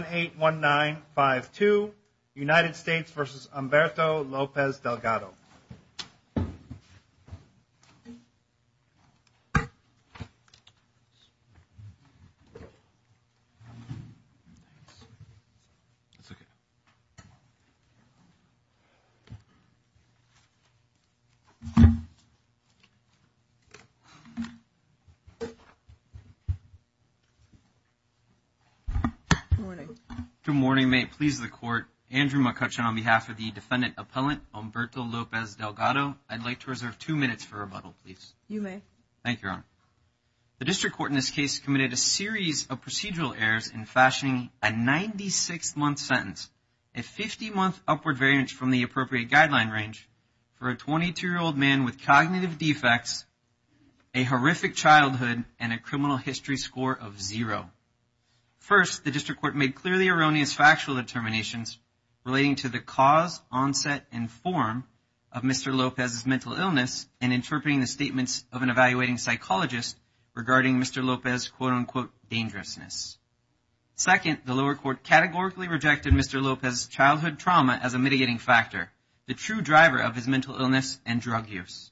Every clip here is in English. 1-819-5-2 United States versus Humberto Lopez-Delgado Good morning, may it please the court, Andrew McCutcheon on behalf of the defendant appellant Humberto Lopez-Delgado, I'd like to reserve two minutes for rebuttal, please. You may. Thank you, Your Honor. The district court in this case committed a series of procedural errors in fashioning a 96-month sentence, a 50-month upward variance from the appropriate guideline range, for a 22-year-old man with cognitive defects, a horrific childhood, and a criminal history score of zero. First, the district court made clearly erroneous factual determinations relating to the cause, onset, and form of Mr. Lopez's mental illness and interpreting the statements of an evaluating psychologist regarding Mr. Lopez's quote-unquote dangerousness. Second, the lower court categorically rejected Mr. Lopez's childhood trauma as a mitigating factor, the true driver of his mental illness and drug use.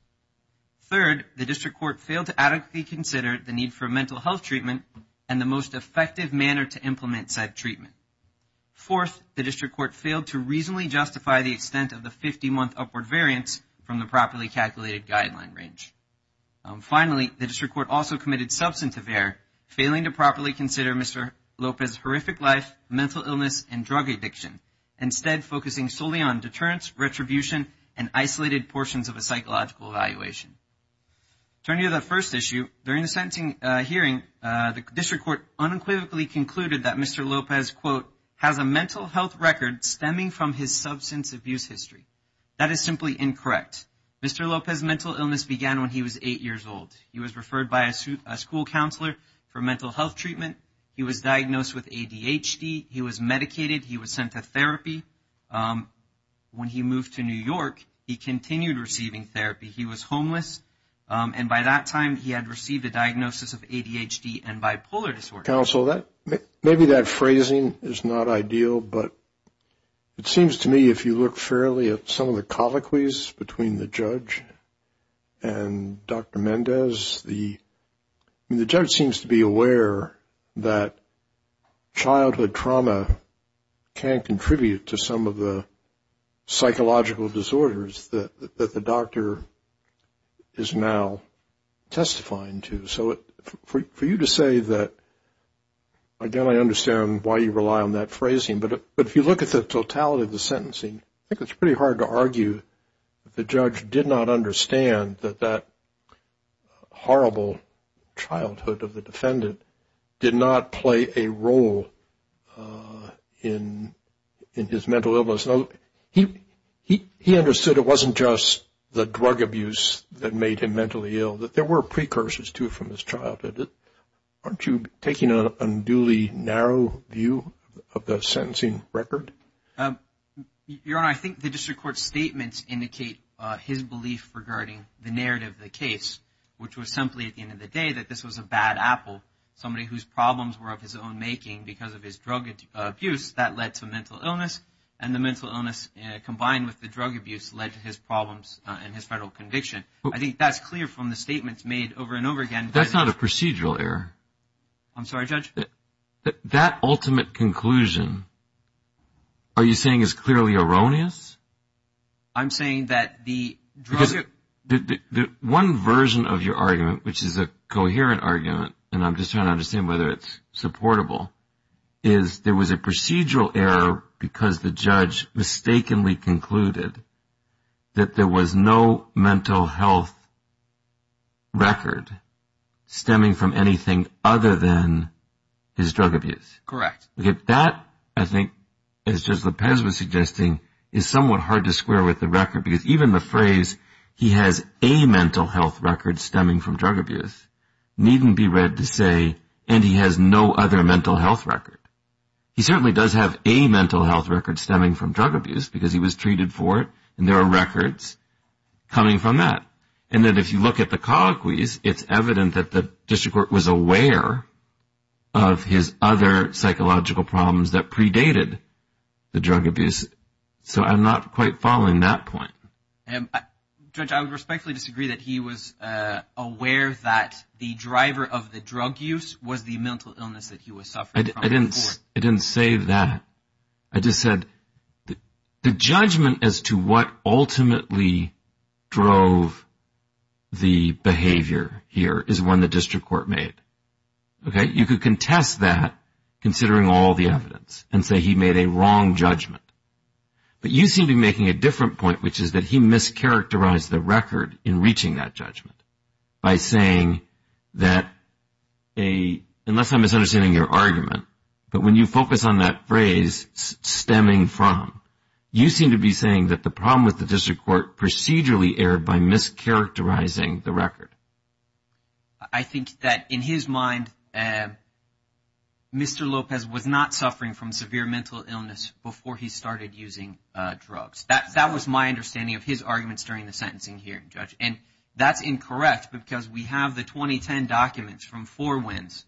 Third, the district court failed to adequately consider the need for mental health treatment and the most effective manner to implement said treatment. Fourth, the district court failed to reasonably justify the extent of the 50-month upward variance from the properly calculated guideline range. Finally, the district court also committed substantive error, failing to properly consider Mr. Lopez's horrific life, mental illness, and drug addiction, instead focusing solely on deterrence, retribution, and isolated portions of a psychological evaluation. Turning to that first issue, during the sentencing hearing, the district court unequivocally concluded that Mr. Lopez's quote has a mental health record stemming from his substance abuse history. That is simply incorrect. Mr. Lopez's mental illness began when he was eight years old. He was referred by a school counselor for mental health treatment. He was diagnosed with ADHD. He was medicated. He was sent to therapy. When he moved to New York, he continued receiving therapy. He was homeless. And by that time, he had received a diagnosis of ADHD and bipolar disorder. Counsel, maybe that phrasing is not ideal, but it seems to me if you look fairly at some of the colloquies between the judge and Dr. Mendez, the judge seems to be aware that childhood trauma can contribute to some of the psychological disorders that the doctor is now testifying to. So for you to say that, again, I understand why you rely on that phrasing, but if you look at the totality of the sentencing, I think it's pretty hard to argue that the judge did not understand that that horrible childhood of the defendant did not play a role in his mental illness. He understood it wasn't just the drug abuse that made him mentally ill, that there were precursors to it from his childhood. Aren't you taking an unduly narrow view of the sentencing record? Your Honor, I think the district court's statements indicate his belief regarding the narrative of the case, which was simply at the end of the day that this was a bad apple. Somebody whose problems were of his own making because of his drug abuse, that led to mental illness, and the mental illness combined with the drug abuse led to his problems and his federal conviction. I think that's clear from the statements made over and over again. That's not a procedural error. I'm sorry, Judge? That ultimate conclusion, are you saying, is clearly erroneous? I'm saying that the drug – Because one version of your argument, which is a coherent argument, and I'm just trying to understand whether it's supportable, is there was a procedural error because the judge mistakenly concluded that there was no mental health record stemming from anything other than his drug abuse. Correct. That, I think, as Judge Lopez was suggesting, is somewhat hard to square with the record, because even the phrase, he has a mental health record stemming from drug abuse, needn't be read to say, and he has no other mental health record. He certainly does have a mental health record stemming from drug abuse because he was treated for it, and there are records coming from that. And that if you look at the colloquies, it's evident that the district court was aware of his other psychological problems that predated the drug abuse. So I'm not quite following that point. Judge, I would respectfully disagree that he was aware that the driver of the drug use was the mental illness that he was suffering from. I didn't say that. I just said the judgment as to what ultimately drove the behavior here is one the district court made. You could contest that, considering all the evidence, and say he made a wrong judgment. But you seem to be making a different point, which is that he mischaracterized the record in reaching that judgment by saying that, unless I'm misunderstanding your argument, but when you focus on that phrase, stemming from, you seem to be saying that the problem with the district court procedurally erred by mischaracterizing the record. I think that in his mind, Mr. Lopez was not suffering from severe mental illness before he started using drugs. That was my understanding of his arguments during the sentencing hearing, Judge. And that's incorrect because we have the 2010 documents from Four Winds,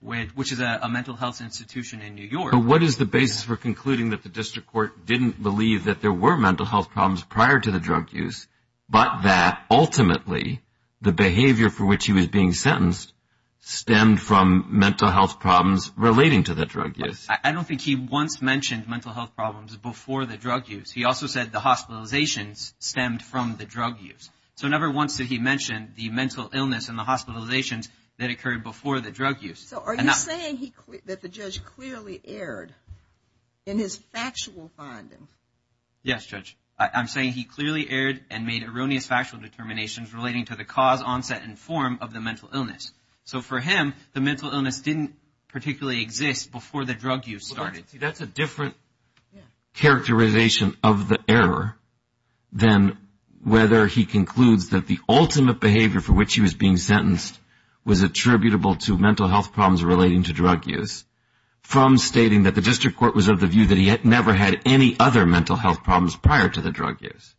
which is a mental health institution in New York. So what is the basis for concluding that the district court didn't believe that there were mental health problems prior to the drug use, but that ultimately the behavior for which he was being sentenced stemmed from mental health problems relating to the drug use? I don't think he once mentioned mental health problems before the drug use. He also said the hospitalizations stemmed from the drug use. So never once did he mention the mental illness and the hospitalizations that occurred before the drug use. So are you saying that the judge clearly erred in his factual finding? Yes, Judge. I'm saying he clearly erred and made erroneous factual determinations relating to the cause, onset, and form of the mental illness. So for him, the mental illness didn't particularly exist before the drug use started. That's a different characterization of the error than whether he concludes that the ultimate behavior for which he was being sentenced was attributable to mental health problems relating to drug use, from stating that the district court was of the view that he had never had any other mental health problems prior to the drug use?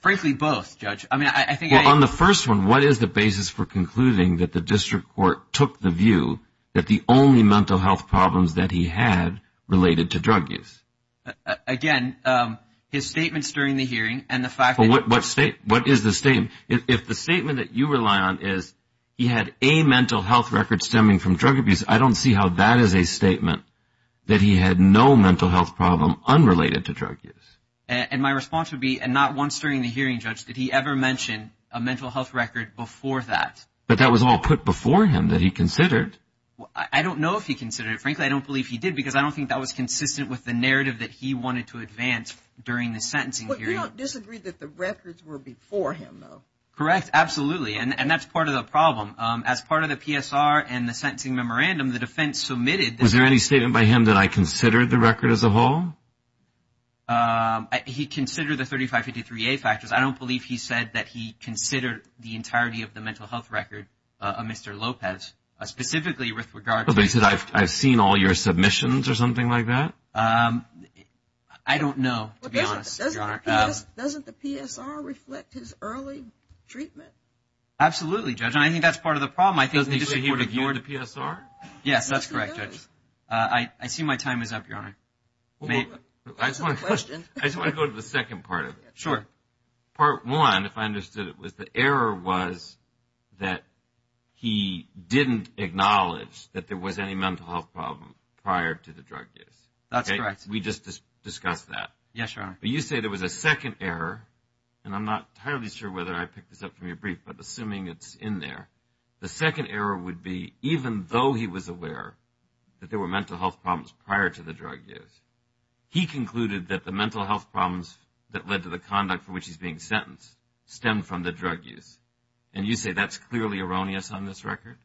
Frankly, both, Judge. Well, on the first one, what is the basis for concluding that the district court took the view that the only mental health problems that he had related to drug use? Again, his statements during the hearing and the fact that- What is the statement? If the statement that you rely on is he had a mental health record stemming from drug abuse, I don't see how that is a statement that he had no mental health problem unrelated to drug use. And my response would be, and not once during the hearing, Judge, did he ever mention a mental health record before that. But that was all put before him that he considered. I don't know if he considered it. Frankly, I don't believe he did because I don't think that was consistent with the narrative that he wanted to advance during the sentencing hearing. I don't disagree that the records were before him, though. Correct, absolutely. And that's part of the problem. As part of the PSR and the sentencing memorandum, the defense submitted- Was there any statement by him that I considered the record as a whole? He considered the 3553A factors. I don't believe he said that he considered the entirety of the mental health record of Mr. Lopez, specifically with regard to- But he said, I've seen all your submissions or something like that? I don't know, to be honest, Your Honor. Doesn't the PSR reflect his early treatment? Absolutely, Judge, and I think that's part of the problem. Doesn't he say he would have ignored the PSR? Yes, that's correct, Judge. I see my time is up, Your Honor. I just want to go to the second part of it. Sure. Part one, if I understood it, was the error was that he didn't acknowledge that there was any mental health problem prior to the drug use. That's correct. We just discussed that. Yes, Your Honor. But you say there was a second error, and I'm not entirely sure whether I picked this up from your brief, but assuming it's in there, the second error would be even though he was aware that there were mental health problems prior to the drug use, he concluded that the mental health problems that led to the conduct for which he's being sentenced stem from the drug use. And you say that's clearly erroneous on this record?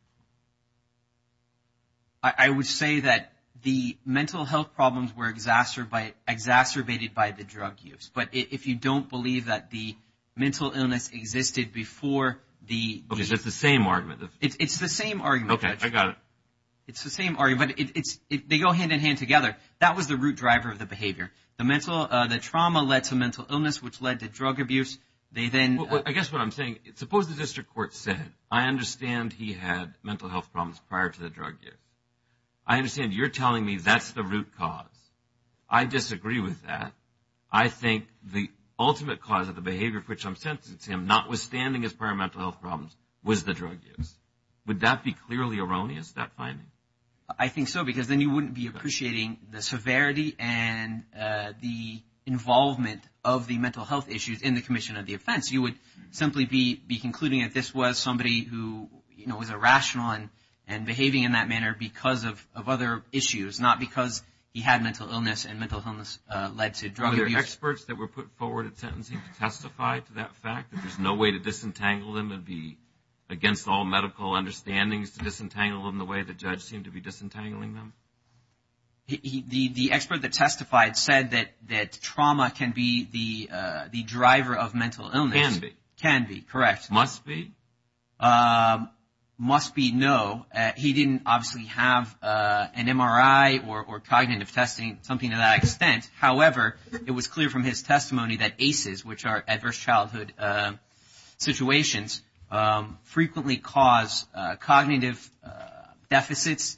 I would say that the mental health problems were exacerbated by the drug use, but if you don't believe that the mental illness existed before the ‑‑ Okay, so it's the same argument. It's the same argument, Judge. Okay, I got it. It's the same argument, but they go hand in hand together. That was the root driver of the behavior. The trauma led to mental illness, which led to drug abuse. I guess what I'm saying, suppose the district court said, I understand he had mental health problems prior to the drug use. I understand you're telling me that's the root cause. I disagree with that. I think the ultimate cause of the behavior for which I'm sentencing him, notwithstanding his prior mental health problems, was the drug use. Would that be clearly erroneous, that finding? I think so, because then you wouldn't be appreciating the severity and the involvement of the mental health issues in the commission of the offense. You would simply be concluding that this was somebody who was irrational and behaving in that manner because of other issues, not because he had mental illness and mental illness led to drug abuse. Were there experts that were put forward at sentencing to testify to that fact, that there's no way to disentangle them and be against all medical understandings to disentangle them the way the judge seemed to be disentangling them? The expert that testified said that trauma can be the driver of mental illness. Can be. Can be, correct. Must be? Must be, no. He didn't obviously have an MRI or cognitive testing, something to that extent. However, it was clear from his testimony that ACEs, which are adverse childhood situations, frequently cause cognitive deficits,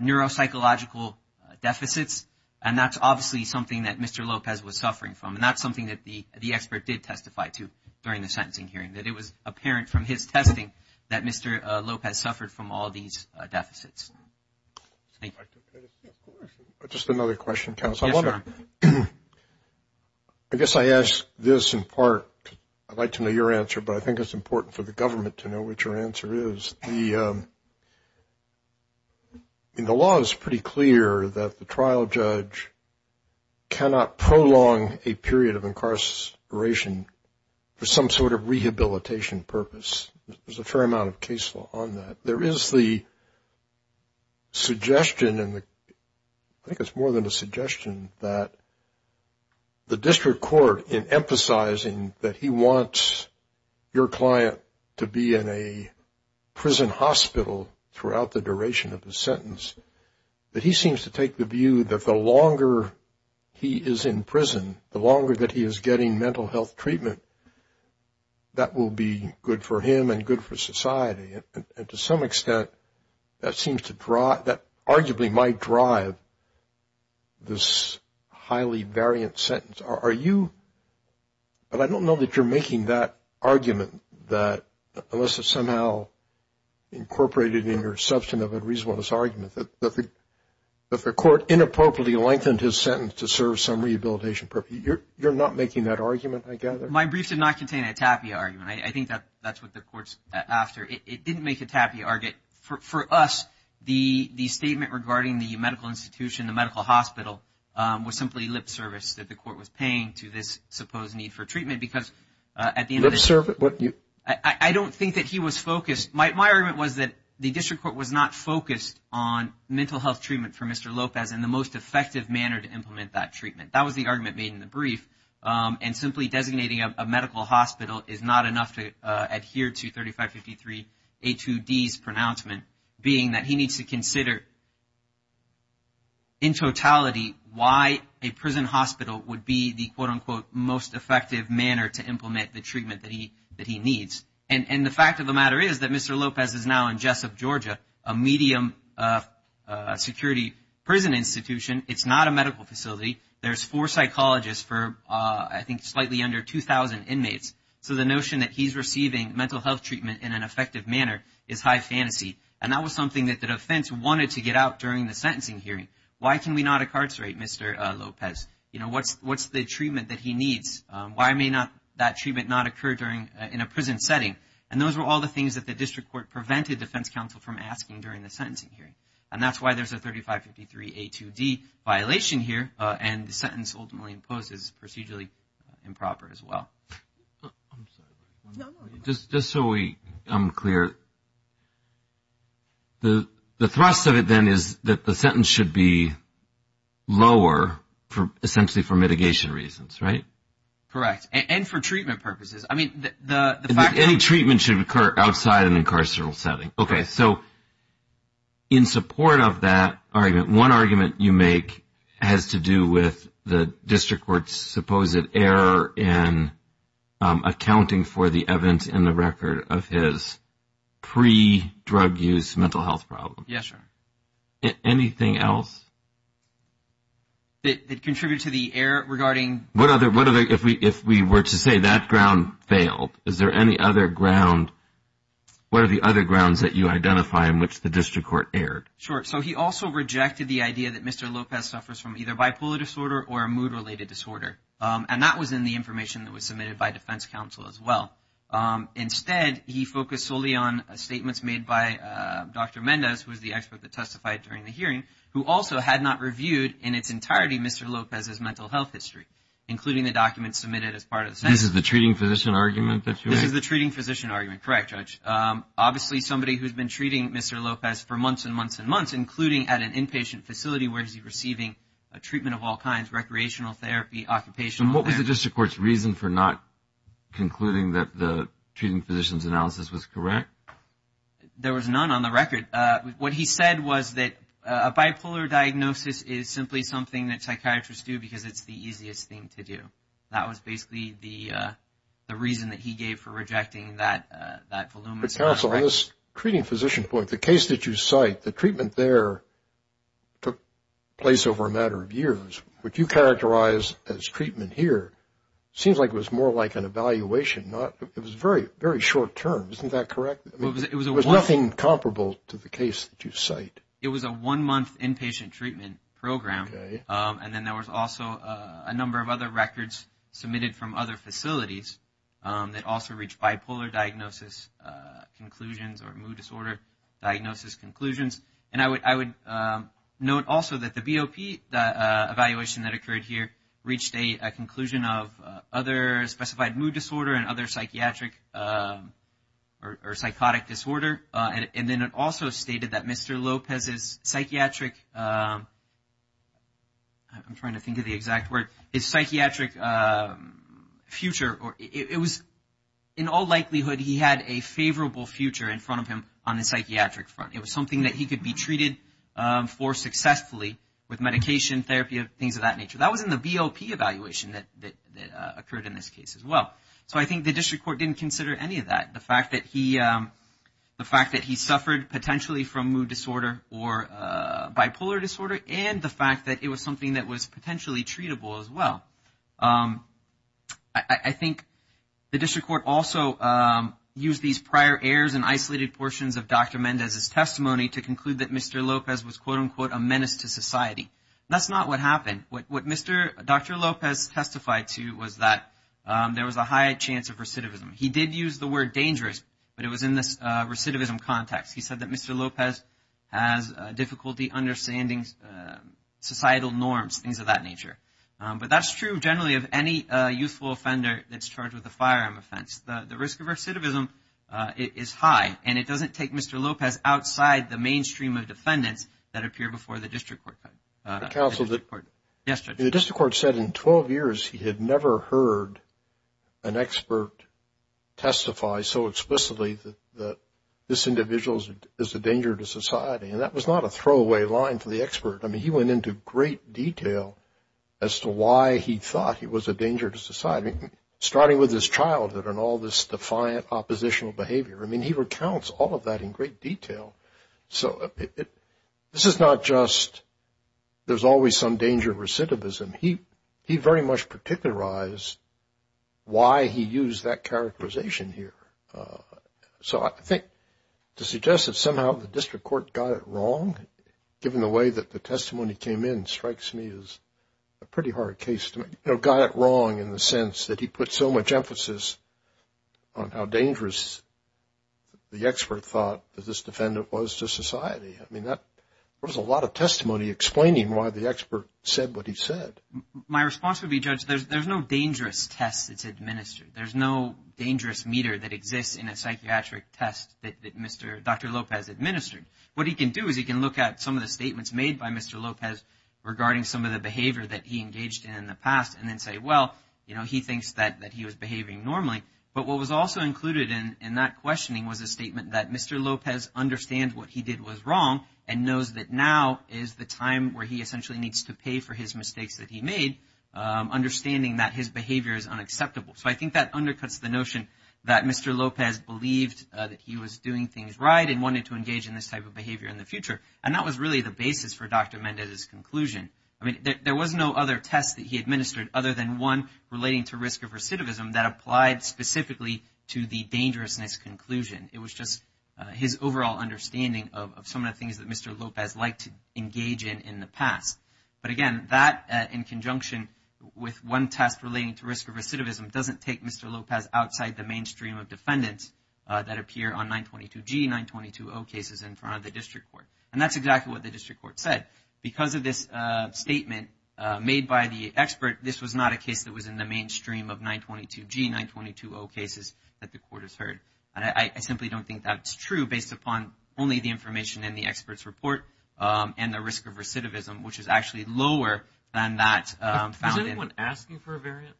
neuropsychological deficits, and that's obviously something that Mr. Lopez was suffering from, and that's something that the expert did testify to during the sentencing hearing, that it was apparent from his testing that Mr. Lopez suffered from all these deficits. Just another question, counsel. Yes, sir. I guess I ask this in part, I'd like to know your answer, but I think it's important for the government to know what your answer is. The law is pretty clear that the trial judge cannot prolong a period of incarceration for some sort of rehabilitation purpose. There's a fair amount of case law on that. There is the suggestion, I think it's more than a suggestion, that the district court, in emphasizing that he wants your client to be in a prison hospital throughout the duration of his sentence, that he seems to take the view that the longer he is in prison, the longer that he is getting mental health treatment, that will be good for him and good for society. And to some extent, that arguably might drive this highly variant sentence. But I don't know that you're making that argument that, unless it's somehow incorporated in your substantive and reasonableness argument, that the court inappropriately lengthened his sentence to serve some rehabilitation purpose. You're not making that argument, I gather? My brief did not contain a tapia argument. I think that's what the court's after. It didn't make a tapia argument. For us, the statement regarding the medical institution, the medical hospital, was simply lip service that the court was paying to this supposed need for treatment. Because at the end of the day, I don't think that he was focused. My argument was that the district court was not focused on mental health treatment for Mr. Lopez in the most effective manner to implement that treatment. That was the argument made in the brief. And simply designating a medical hospital is not enough to adhere to 3553A2D's pronouncement, being that he needs to consider in totality why a prison hospital would be the quote-unquote most effective manner to implement the treatment that he needs. And the fact of the matter is that Mr. Lopez is now in Jessup, Georgia, a medium security prison institution. It's not a medical facility. There's four psychologists for, I think, slightly under 2,000 inmates. So the notion that he's receiving mental health treatment in an effective manner is high fantasy. And that was something that the defense wanted to get out during the sentencing hearing. Why can we not incarcerate Mr. Lopez? You know, what's the treatment that he needs? Why may that treatment not occur in a prison setting? And those were all the things that the district court prevented defense counsel from asking during the sentencing hearing. And that's why there's a 3553A2D violation here, and the sentence ultimately imposes procedurally improper as well. Just so I'm clear, the thrust of it then is that the sentence should be lower, essentially for mitigation reasons, right? Correct. And for treatment purposes. I mean, the fact that any treatment should occur outside an incarcerated setting. Okay. So in support of that argument, one argument you make has to do with the district court's supposed error in accounting for the evidence in the record of his pre-drug use mental health problem. Yes, sir. Anything else? That contributed to the error regarding? What other, if we were to say that ground failed, is there any other ground, what are the other grounds that you identify in which the district court erred? Sure. So he also rejected the idea that Mr. Lopez suffers from either bipolar disorder or a mood-related disorder. And that was in the information that was submitted by defense counsel as well. Instead, he focused solely on statements made by Dr. Mendez, who was the expert that testified during the hearing, who also had not reviewed in its entirety Mr. Lopez's mental health history, including the documents submitted as part of the sentence. This is the treating physician argument that you made? This is the treating physician argument, correct, Judge. Obviously, somebody who's been treating Mr. Lopez for months and months and months, including at an inpatient facility where he's receiving a treatment of all kinds, recreational therapy, occupational therapy. And what was the district court's reason for not concluding that the treating physician's analysis was correct? There was none on the record. What he said was that a bipolar diagnosis is simply something that psychiatrists do because it's the easiest thing to do. And that was basically the reason that he gave for rejecting that voluminous analysis. Counsel, on this treating physician point, the case that you cite, the treatment there took place over a matter of years. What you characterize as treatment here seems like it was more like an evaluation. It was very, very short term. Isn't that correct? It was nothing comparable to the case that you cite. It was a one-month inpatient treatment program. Okay. And then there was also a number of other records submitted from other facilities that also reached bipolar diagnosis conclusions or mood disorder diagnosis conclusions. And I would note also that the BOP evaluation that occurred here reached a conclusion of other specified mood disorder and other psychiatric or psychotic disorder. And then it also stated that Mr. Lopez's psychiatric, I'm trying to think of the exact word, his psychiatric future, it was in all likelihood he had a favorable future in front of him on the psychiatric front. It was something that he could be treated for successfully with medication, therapy, things of that nature. That was in the BOP evaluation that occurred in this case as well. So I think the district court didn't consider any of that. The fact that he suffered potentially from mood disorder or bipolar disorder and the fact that it was something that was potentially treatable as well. I think the district court also used these prior errors and isolated portions of Dr. Mendez's testimony to conclude that Mr. Lopez was, quote, unquote, a menace to society. That's not what happened. What Dr. Lopez testified to was that there was a high chance of recidivism. He did use the word dangerous, but it was in this recidivism context. He said that Mr. Lopez has difficulty understanding societal norms, things of that nature. But that's true generally of any youthful offender that's charged with a firearm offense. The risk of recidivism is high, and it doesn't take Mr. Lopez outside the mainstream of defendants that appear before the district court. The district court said in 12 years he had never heard an expert testify so explicitly that this individual is a danger to society. And that was not a throwaway line for the expert. I mean, he went into great detail as to why he thought he was a danger to society, starting with his childhood and all this defiant oppositional behavior. I mean, he recounts all of that in great detail. So this is not just there's always some danger of recidivism. He very much particularized why he used that characterization here. So I think to suggest that somehow the district court got it wrong, given the way that the testimony came in, strikes me as a pretty hard case to make. You know, got it wrong in the sense that he put so much emphasis on how dangerous the expert thought that this defendant was to society. I mean, there was a lot of testimony explaining why the expert said what he said. My response would be, Judge, there's no dangerous test that's administered. There's no dangerous meter that exists in a psychiatric test that Dr. Lopez administered. What he can do is he can look at some of the statements made by Mr. Lopez regarding some of the behavior that he engaged in in the past, and then say, well, you know, he thinks that he was behaving normally. But what was also included in that questioning was a statement that Mr. Lopez understands what he did was wrong and knows that now is the time where he essentially needs to pay for his mistakes that he made, understanding that his behavior is unacceptable. So I think that undercuts the notion that Mr. Lopez believed that he was doing things right and wanted to engage in this type of behavior in the future. And that was really the basis for Dr. Mendez's conclusion. I mean, there was no other test that he administered other than one relating to risk of recidivism that applied specifically to the dangerousness conclusion. It was just his overall understanding of some of the things that Mr. Lopez liked to engage in in the past. But, again, that in conjunction with one test relating to risk of recidivism doesn't take Mr. Lopez outside the mainstream of defendants that appear on 922G, 922O cases in front of the district court. And that's exactly what the district court said. Because of this statement made by the expert, this was not a case that was in the mainstream of 922G, 922O cases that the court has heard. And I simply don't think that's true based upon only the information in the expert's report and the risk of recidivism, which is actually lower than that found in… Was anyone asking for a variance?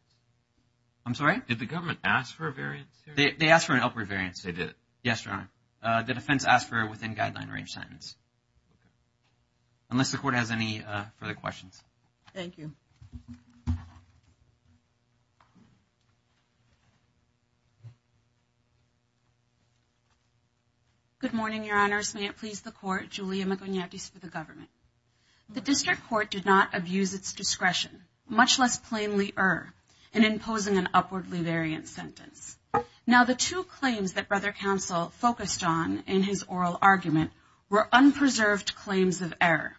I'm sorry? Did the government ask for a variance here? They asked for an upward variance. They did? Yes, Your Honor. The defense asked for a within-guideline range sentence. Unless the court has any further questions. Thank you. Good morning, Your Honors. May it please the court, Julia Magonetes for the government. The district court did not abuse its discretion, much less plainly err, in imposing an upward variance sentence. Now, the two claims that Brother Counsel focused on in his oral argument were unpreserved claims of error.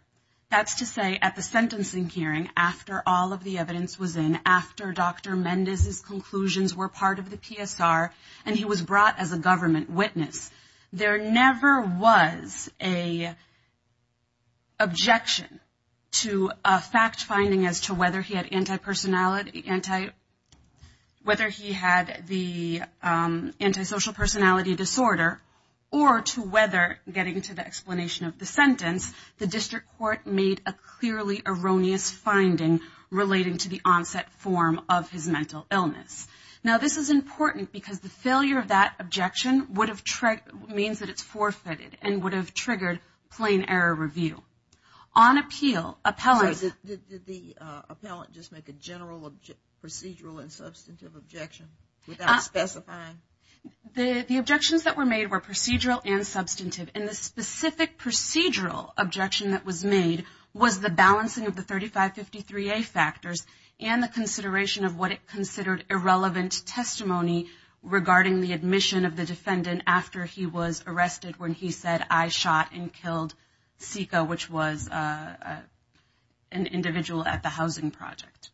That's to say, at the sentencing hearing, after all of the evidence was in, after Dr. Mendez's conclusions were part of the PSR and he was brought as a government witness, there never was an objection to a fact-finding as to whether he had anti-personality, whether he had the antisocial personality disorder, or to whether, getting to the explanation of the sentence, the district court made a clearly erroneous finding relating to the onset form of his mental illness. Now, this is important because the failure of that objection would have, means that it's forfeited and would have triggered plain error review. On appeal, appellants… procedural and substantive objection without specifying? The objections that were made were procedural and substantive, and the specific procedural objection that was made was the balancing of the 3553A factors and the consideration of what it considered irrelevant testimony regarding the admission of the defendant after he was arrested when he said, I shot and killed Sika, which was an individual at the housing project.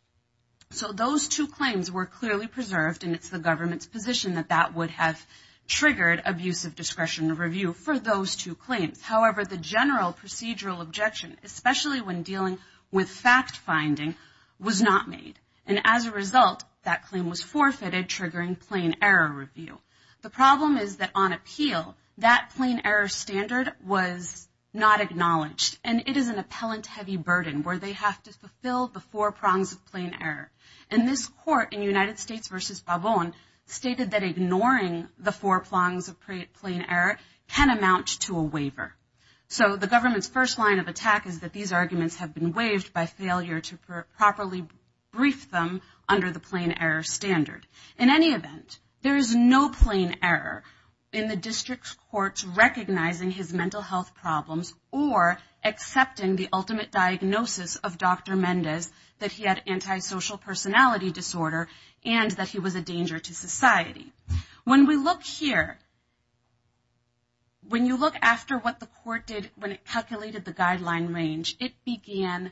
So those two claims were clearly preserved, and it's the government's position that that would have triggered abusive discretion review for those two claims. However, the general procedural objection, especially when dealing with fact-finding, was not made. And as a result, that claim was forfeited, triggering plain error review. The problem is that on appeal, that plain error standard was not acknowledged, and it is an appellant-heavy burden where they have to fulfill the four prongs of plain error. And this court in United States v. Pavon stated that ignoring the four prongs of plain error can amount to a waiver. So the government's first line of attack is that these arguments have been waived by failure to properly brief them under the plain error standard. In any event, there is no plain error in the district's courts recognizing his mental health problems or accepting the ultimate diagnosis of Dr. Mendez that he had antisocial personality disorder and that he was a danger to society. When we look here, when you look after what the court did when it calculated the guideline range, it began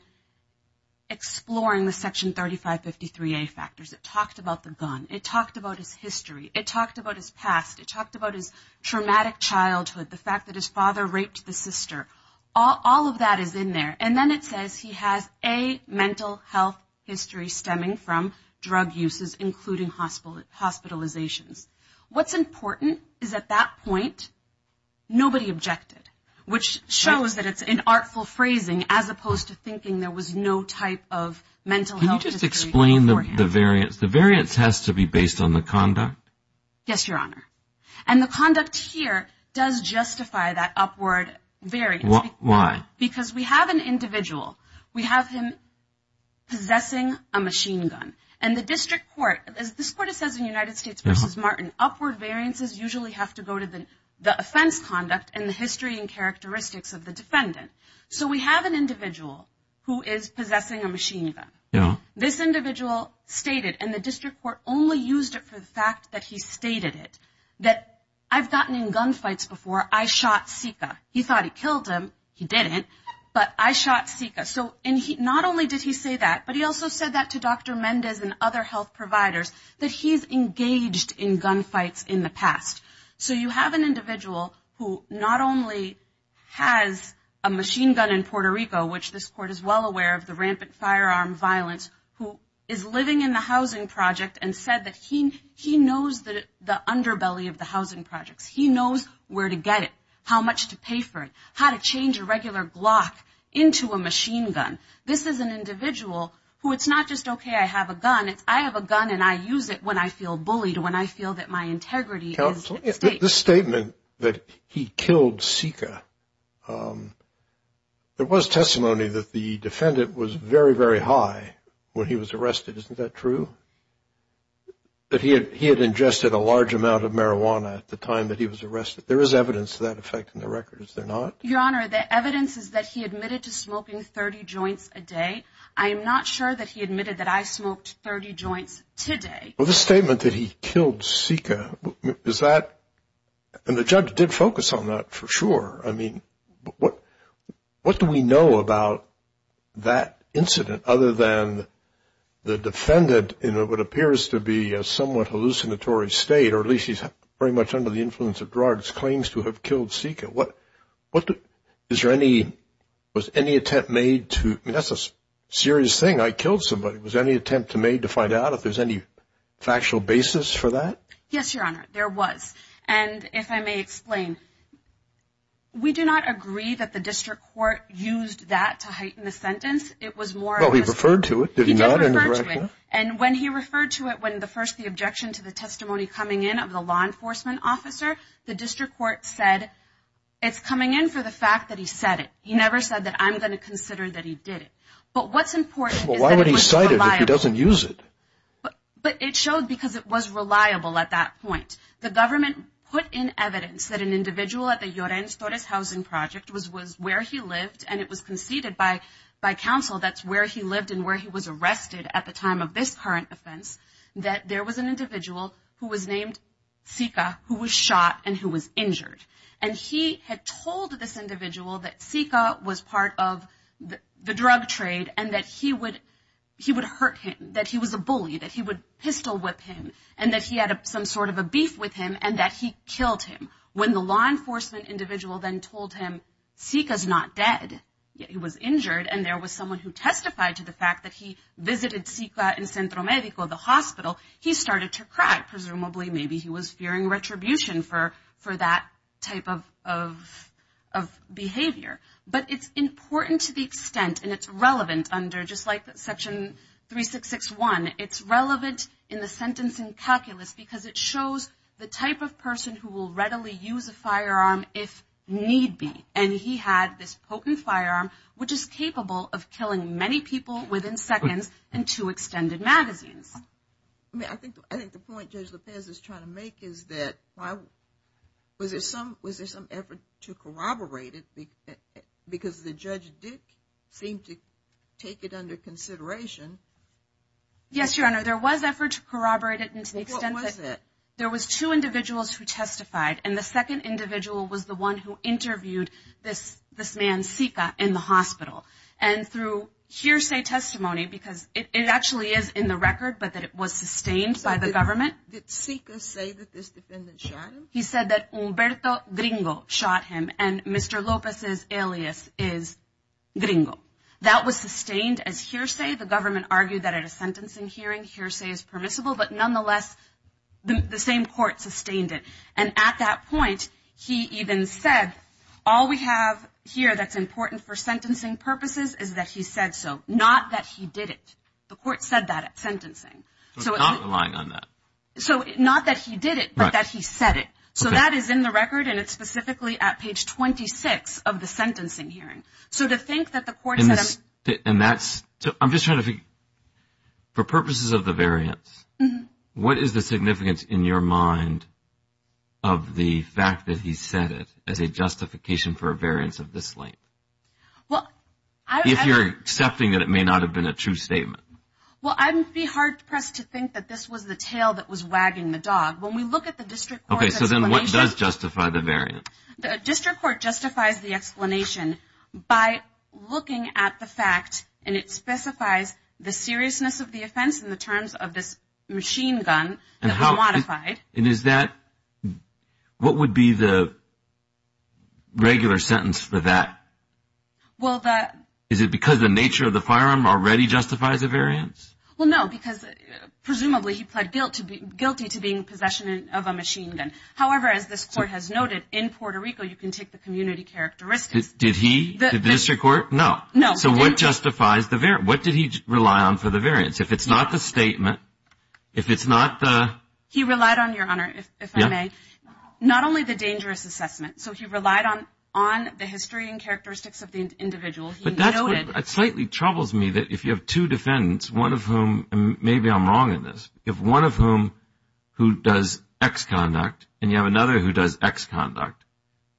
exploring the Section 3553A factors. It talked about the gun. It talked about his history. It talked about his past. It talked about his traumatic childhood, the fact that his father raped the sister. All of that is in there. And then it says he has a mental health history stemming from drug uses, including hospitalizations. What's important is at that point, nobody objected, which shows that it's an artful phrasing as opposed to thinking there was no type of mental health history. Can you just explain the variance? The variance has to be based on the conduct? Yes, Your Honor. And the conduct here does justify that upward variance. Why? Because we have an individual. We have him possessing a machine gun. And the district court, as this court says in United States v. Martin, upward variances usually have to go to the offense conduct and the history and characteristics of the defendant. So we have an individual who is possessing a machine gun. This individual stated, and the district court only used it for the fact that he stated it, that I've gotten in gunfights before. I shot Sika. He thought he killed him. He didn't. But I shot Sika. So not only did he say that, but he also said that to Dr. Mendez and other health providers, that he's engaged in gunfights in the past. So you have an individual who not only has a machine gun in Puerto Rico, which this court is well aware of, the rampant firearm violence, who is living in the housing project and said that he knows the underbelly of the housing projects. He knows where to get it, how much to pay for it, how to change a regular Glock into a machine gun. This is an individual who it's not just okay I have a gun. It's I have a gun and I use it when I feel bullied, when I feel that my integrity is at stake. This statement that he killed Sika, there was testimony that the defendant was very, very high when he was arrested. Isn't that true? That he had ingested a large amount of marijuana at the time that he was arrested. There is evidence to that effect in the record. Is there not? Your Honor, the evidence is that he admitted to smoking 30 joints a day. I am not sure that he admitted that I smoked 30 joints today. Well, the statement that he killed Sika, is that, and the judge did focus on that for sure. I mean, what do we know about that incident other than the defendant, in what appears to be a somewhat hallucinatory state, or at least he's very much under the influence of drugs, claims to have killed Sika. Is there any, was any attempt made to, that's a serious thing, I killed somebody. Was there any attempt made to find out if there's any factual basis for that? Yes, Your Honor, there was. And if I may explain, we do not agree that the district court used that to heighten the sentence. It was more of a... Well, he referred to it, did he not? He did refer to it, and when he referred to it, when the first, the objection to the testimony coming in of the law enforcement officer, the district court said, it's coming in for the fact that he said it. He never said that I'm going to consider that he did it. But what's important is that it was reliable. Well, why would he cite it if he doesn't use it? But it showed because it was reliable at that point. The government put in evidence that an individual at the Llorenz Torres Housing Project was where he lived, and it was conceded by counsel that's where he lived and where he was arrested at the time of this current offense, that there was an individual who was named Sika who was shot and who was injured. And he had told this individual that Sika was part of the drug trade and that he would hurt him, that he was a bully, that he would pistol whip him, and that he had some sort of a beef with him and that he killed him. When the law enforcement individual then told him, Sika's not dead, he was injured, and there was someone who testified to the fact that he visited Sika in Centro Medico, the hospital, he started to cry. Presumably, maybe he was fearing retribution for that type of behavior. But it's important to the extent, and it's relevant under just like Section 3661, it's relevant in the sentencing calculus because it shows the type of person who will readily use a firearm if need be. And he had this potent firearm which is capable of killing many people within seconds in two extended magazines. I think the point Judge Lopez is trying to make is that was there some effort to corroborate it because the Judge Dick seemed to take it under consideration. Yes, Your Honor. There was effort to corroborate it to the extent that there was two individuals who testified, and the second individual was the one who interviewed this man, Sika, in the hospital. And through hearsay testimony, because it actually is in the record, but that it was sustained by the government. Did Sika say that this defendant shot him? He said that Humberto Gringo shot him, and Mr. Lopez's alias is Gringo. That was sustained as hearsay. The government argued that at a sentencing hearing, hearsay is permissible, but nonetheless, the same court sustained it. And at that point, he even said, all we have here that's important for sentencing purposes is that he said so, not that he did it. The court said that at sentencing. So it's not relying on that. So not that he did it, but that he said it. So that is in the record, and it's specifically at page 26 of the sentencing hearing. So to think that the court said that. And that's – I'm just trying to figure – for purposes of the variance, what is the significance in your mind of the fact that he said it as a justification for a variance of this length? If you're accepting that it may not have been a true statement. Well, I'd be hard-pressed to think that this was the tail that was wagging the dog. When we look at the district court's explanation – Okay, so then what does justify the variance? The district court justifies the explanation by looking at the fact, and it specifies the seriousness of the offense in the terms of this machine gun that we modified. And is that – what would be the regular sentence for that? Well, the – Is it because the nature of the firearm already justifies a variance? Well, no, because presumably he pled guilty to being in possession of a machine gun. However, as this court has noted, in Puerto Rico you can take the community characteristics. Did he? Did the district court? No. So what justifies the – what did he rely on for the variance? If it's not the statement, if it's not the – He relied on, Your Honor, if I may, not only the dangerous assessment. So he relied on the history and characteristics of the individual. He noted – But that's what slightly troubles me, that if you have two defendants, one of whom – and maybe I'm wrong in this – you have one of whom who does X conduct, and you have another who does X conduct,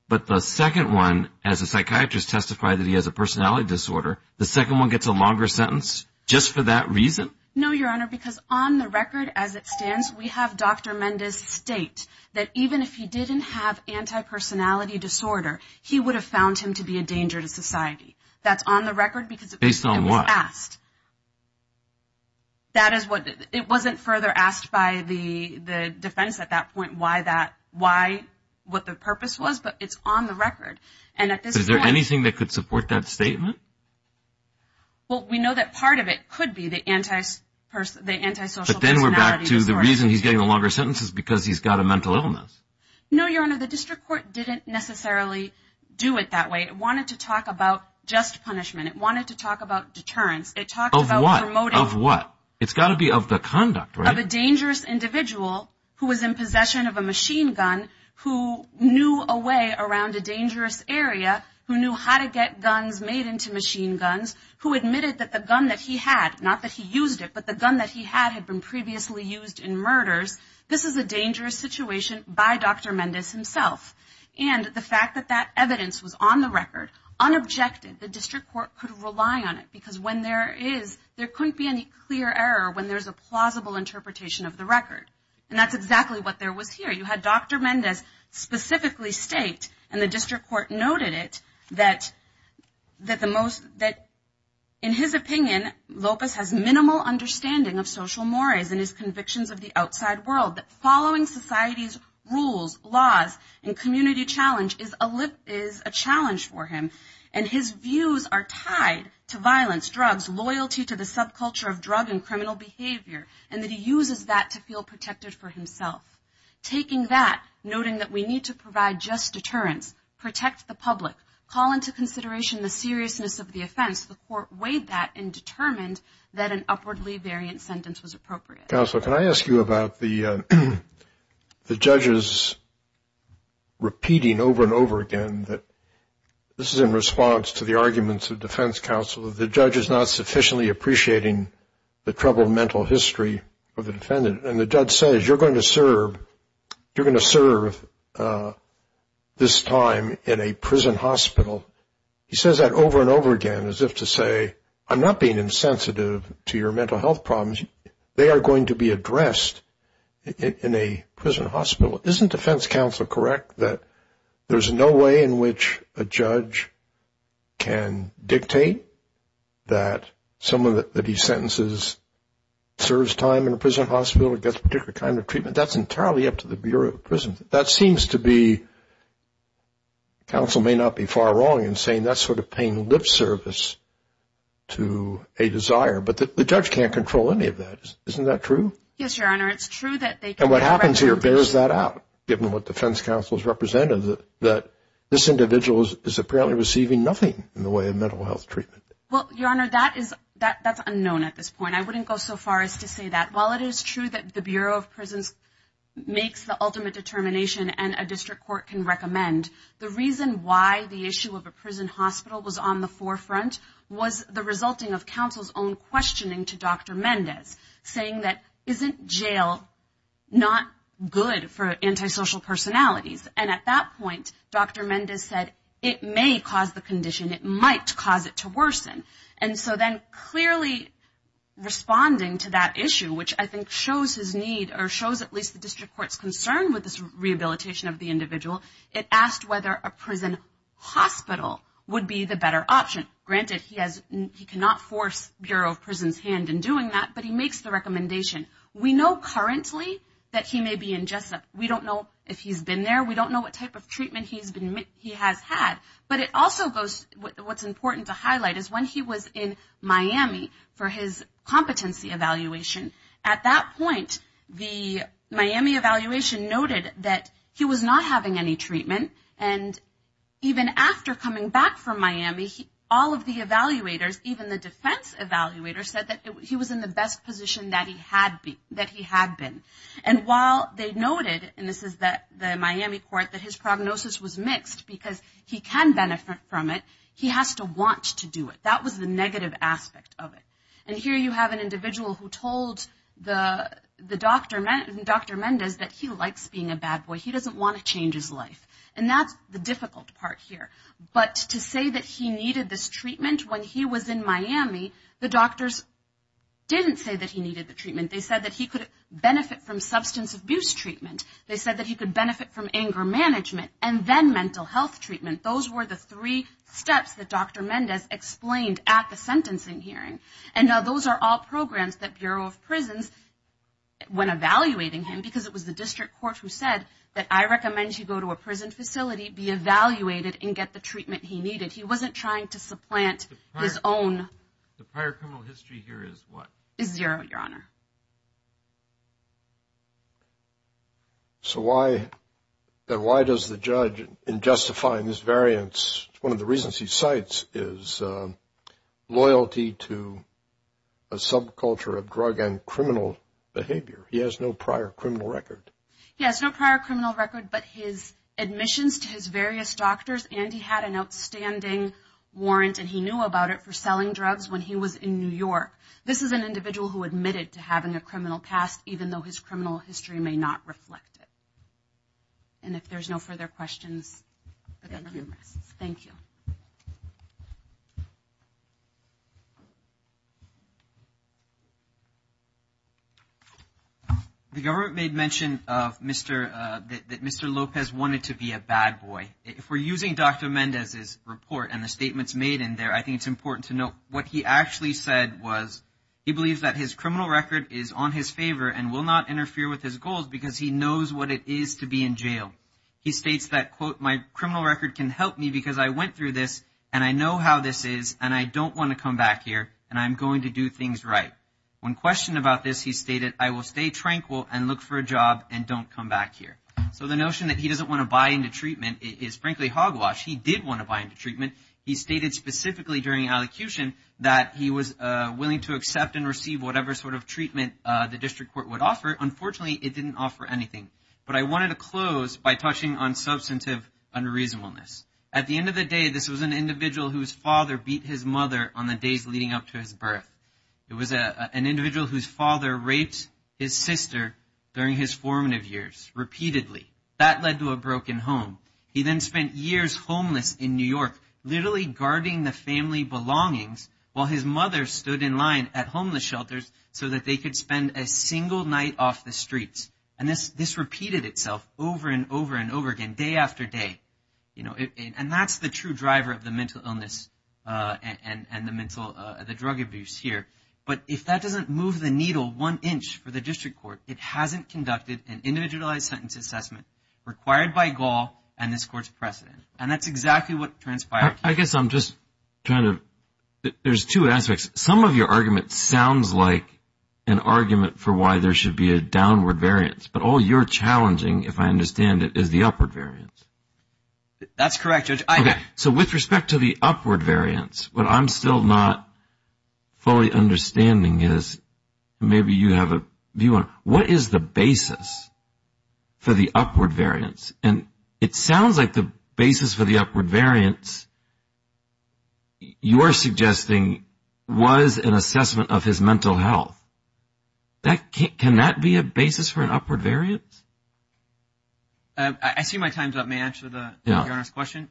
but the second one, as a psychiatrist testified that he has a personality disorder, the second one gets a longer sentence just for that reason? No, Your Honor, because on the record as it stands, we have Dr. Mendes state that even if he didn't have antipersonality disorder, he would have found him to be a danger to society. That's on the record because it was asked. Based on what? That is what – it wasn't further asked by the defense at that point why that – what the purpose was, but it's on the record. And at this point – Is there anything that could support that statement? Well, we know that part of it could be the antisocial personality disorder. But then we're back to the reason he's getting a longer sentence is because he's got a mental illness. No, Your Honor, the district court didn't necessarily do it that way. It wanted to talk about just punishment. It wanted to talk about deterrence. It talked about promoting – Of what? Of what? It's got to be of the conduct, right? Of a dangerous individual who was in possession of a machine gun who knew a way around a dangerous area, who knew how to get guns made into machine guns, who admitted that the gun that he had – not that he used it, but the gun that he had had been previously used in murders – this is a dangerous situation by Dr. Mendes himself. And the fact that that evidence was on the record, unobjected, the district court could rely on it because when there is – And that's exactly what there was here. You had Dr. Mendes specifically state, and the district court noted it, that the most – that in his opinion, Lopez has minimal understanding of social mores and his convictions of the outside world, that following society's rules, laws, and community challenge is a challenge for him. And his views are tied to violence, drugs, loyalty to the subculture of drug and criminal behavior, and that he uses that to feel protected for himself. Taking that, noting that we need to provide just deterrence, protect the public, call into consideration the seriousness of the offense, the court weighed that and determined that an upwardly variant sentence was appropriate. Counsel, can I ask you about the judges repeating over and over again that this is in response to the arguments of defense counsel, the judge is not sufficiently appreciating the troubled mental history of the defendant. And the judge says, you're going to serve this time in a prison hospital. He says that over and over again as if to say, I'm not being insensitive to your mental health problems. They are going to be addressed in a prison hospital. Counsel, isn't defense counsel correct that there's no way in which a judge can dictate that someone that he sentences serves time in a prison hospital or gets a particular kind of treatment? That's entirely up to the Bureau of Prisons. That seems to be, counsel may not be far wrong in saying that's sort of paying lip service to a desire, but the judge can't control any of that. Isn't that true? Yes, Your Honor, it's true that they can. And what happens here bears that out, given what defense counsel has represented, that this individual is apparently receiving nothing in the way of mental health treatment. Well, Your Honor, that's unknown at this point. I wouldn't go so far as to say that. While it is true that the Bureau of Prisons makes the ultimate determination and a district court can recommend, the reason why the issue of a prison hospital was on the forefront was the resulting of counsel's own questioning to Dr. Mendez, saying that isn't jail not good for antisocial personalities? And at that point, Dr. Mendez said it may cause the condition, it might cause it to worsen. And so then clearly responding to that issue, which I think shows his need or shows at least the district court's concern with this rehabilitation of the individual, it asked whether a prison hospital would be the better option. Granted, he cannot force Bureau of Prisons' hand in doing that, but he makes the recommendation. We know currently that he may be in Jessup. We don't know if he's been there. We don't know what type of treatment he has had. But what's important to highlight is when he was in Miami for his competency evaluation, at that point the Miami evaluation noted that he was not having any treatment. And even after coming back from Miami, all of the evaluators, even the defense evaluators said that he was in the best position that he had been. And while they noted, and this is the Miami court, that his prognosis was mixed because he can benefit from it, he has to want to do it. That was the negative aspect of it. And here you have an individual who told Dr. Mendez that he likes being a bad boy. He doesn't want to change his life. And that's the difficult part here. But to say that he needed this treatment when he was in Miami, the doctors didn't say that he needed the treatment. They said that he could benefit from substance abuse treatment. They said that he could benefit from anger management and then mental health treatment. Those were the three steps that Dr. Mendez explained at the sentencing hearing. And now those are all programs that Bureau of Prisons, when evaluating him, because it was the district court who said that I recommend you go to a prison facility, be evaluated, and get the treatment he needed. He wasn't trying to supplant his own. The prior criminal history here is what? Is zero, Your Honor. So why does the judge, in justifying this variance, one of the reasons he cites is loyalty to a subculture of drug and criminal behavior. He has no prior criminal record. He has no prior criminal record, but his admissions to his various doctors, and he had an outstanding warrant, and he knew about it, for selling drugs when he was in New York. This is an individual who admitted to having a criminal past, even though his criminal history may not reflect it. And if there's no further questions. Thank you. The government made mention that Mr. Lopez wanted to be a bad boy. If we're using Dr. Mendez's report and the statements made in there, I think it's important to note what he actually said was he believes that his criminal record is on his favor and will not interfere with his goals because he knows what it is to be in jail. He states that, quote, my criminal record can help me, but I don't want to be a bad boy. And I know how this is, and I don't want to come back here, and I'm going to do things right. When questioned about this, he stated, I will stay tranquil and look for a job and don't come back here. So the notion that he doesn't want to buy into treatment is frankly hogwash. He did want to buy into treatment. He stated specifically during allocution that he was willing to accept and receive whatever sort of treatment the district court would offer. Unfortunately, it didn't offer anything. But I wanted to close by touching on substantive unreasonableness. At the end of the day, this was an individual whose father beat his mother on the days leading up to his birth. It was an individual whose father raped his sister during his formative years repeatedly. That led to a broken home. He then spent years homeless in New York, literally guarding the family belongings, while his mother stood in line at homeless shelters so that they could spend a single night off the streets. And this repeated itself over and over and over again, day after day. And that's the true driver of the mental illness and the drug abuse here. But if that doesn't move the needle one inch for the district court, it hasn't conducted an individualized sentence assessment required by Gaul and this Court's precedent. And that's exactly what transpired. I guess I'm just trying to – there's two aspects. Some of your argument sounds like an argument for why there should be a downward variance. But all you're challenging, if I understand it, is the upward variance. That's correct. So with respect to the upward variance, what I'm still not fully understanding is – maybe you have a view on it. What is the basis for the upward variance? And it sounds like the basis for the upward variance you're suggesting was an assessment of his mental health. Can that be a basis for an upward variance? I see my time's up. May I answer the Your Honor's question?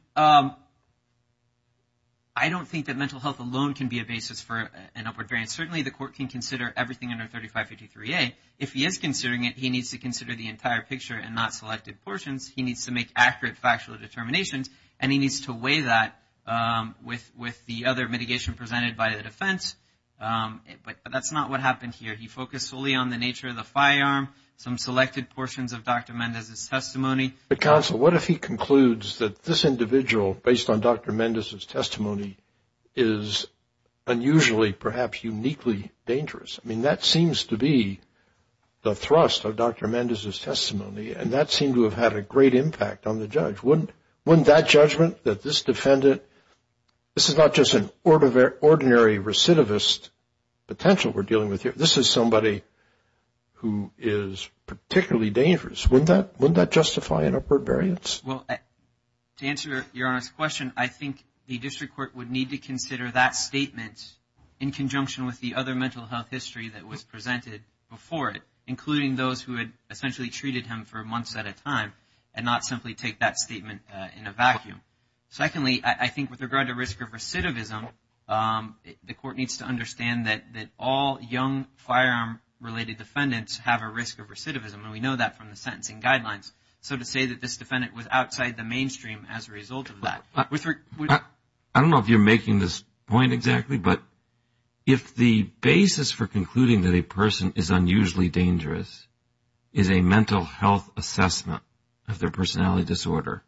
I don't think that mental health alone can be a basis for an upward variance. Certainly, the court can consider everything under 3553A. If he is considering it, he needs to consider the entire picture and not selected portions. He needs to make accurate factual determinations, and he needs to weigh that with the other mitigation presented by the defense. But that's not what happened here. He focused solely on the nature of the firearm, some selected portions of Dr. Mendez's testimony. But counsel, what if he concludes that this individual, based on Dr. Mendez's testimony, is unusually, perhaps uniquely dangerous? I mean, that seems to be the thrust of Dr. Mendez's testimony, and that seemed to have had a great impact on the judge. Wouldn't that judgment that this defendant – this is not just an ordinary recidivist potential we're dealing with here. This is somebody who is particularly dangerous. Wouldn't that justify an upward variance? Well, to answer Your Honor's question, I think the district court would need to consider that statement in conjunction with the other mental health history that was presented before it, including those who had essentially treated him for months at a time, and not simply take that statement in a vacuum. Secondly, I think with regard to risk of recidivism, the court needs to understand that all young firearm-related defendants have a risk of recidivism, and we know that from the sentencing guidelines. So to say that this defendant was outside the mainstream as a result of that – I don't know if you're making this point exactly, but if the basis for concluding that a person is unusually dangerous is a mental health assessment of their personality disorder,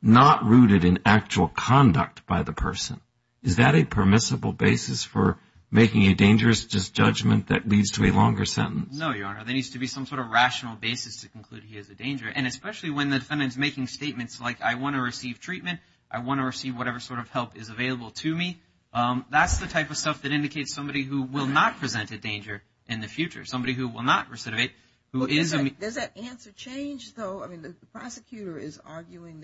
not rooted in actual conduct by the person, is that a permissible basis for making a dangerous judgment that leads to a longer sentence? No, Your Honor. There needs to be some sort of rational basis to conclude he is a danger, and especially when the defendant is making statements like, I want to receive treatment, I want to receive whatever sort of help is available to me. That's the type of stuff that indicates somebody who will not present a danger in the future, somebody who will not recidivate, who is a – Does that answer change, though? I mean, the prosecutor is arguing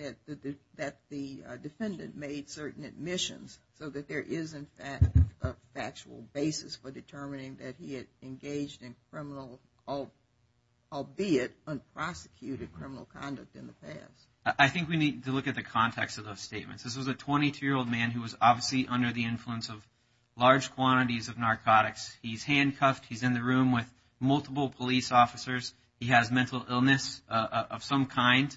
that the defendant made certain admissions, so that there is, in fact, a factual basis for determining that he had engaged in criminal, albeit unprosecuted, criminal conduct in the past. I think we need to look at the context of those statements. This was a 22-year-old man who was obviously under the influence of large quantities of narcotics. He's handcuffed. He's in the room with multiple police officers. He has mental illness of some kind,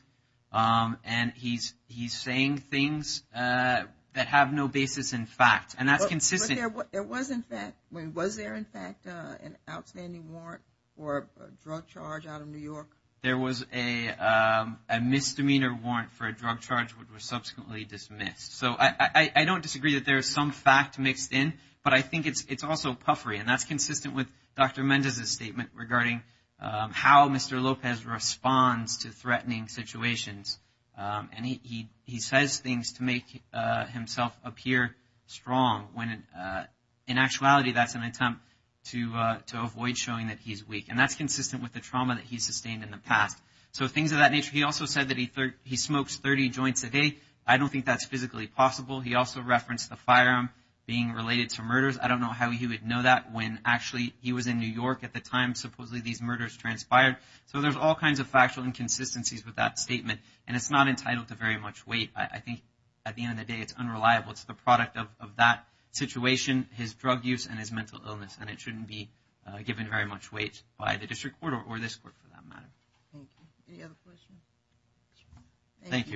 and he's saying things that have no basis in fact, and that's consistent. But there was, in fact – I mean, was there, in fact, an outstanding warrant for a drug charge out of New York? There was a misdemeanor warrant for a drug charge which was subsequently dismissed. So I don't disagree that there is some fact mixed in, but I think it's also puffery, and that's consistent with Dr. Mendez's statement regarding how Mr. Lopez responds to threatening situations, and he says things to make himself appear strong when, in actuality, that's an attempt to avoid showing that he's weak, and that's consistent with the trauma that he's sustained in the past. So things of that nature. He also said that he smokes 30 joints a day. I don't think that's physically possible. He also referenced the firearm being related to murders. I don't know how he would know that when, actually, he was in New York at the time, supposedly, these murders transpired. So there's all kinds of factual inconsistencies with that statement, and it's not entitled to very much weight. I think, at the end of the day, it's unreliable. It's the product of that situation, his drug use, and his mental illness, and it shouldn't be given very much weight by the district court or this court for that matter. Thank you. Any other questions? Thank you.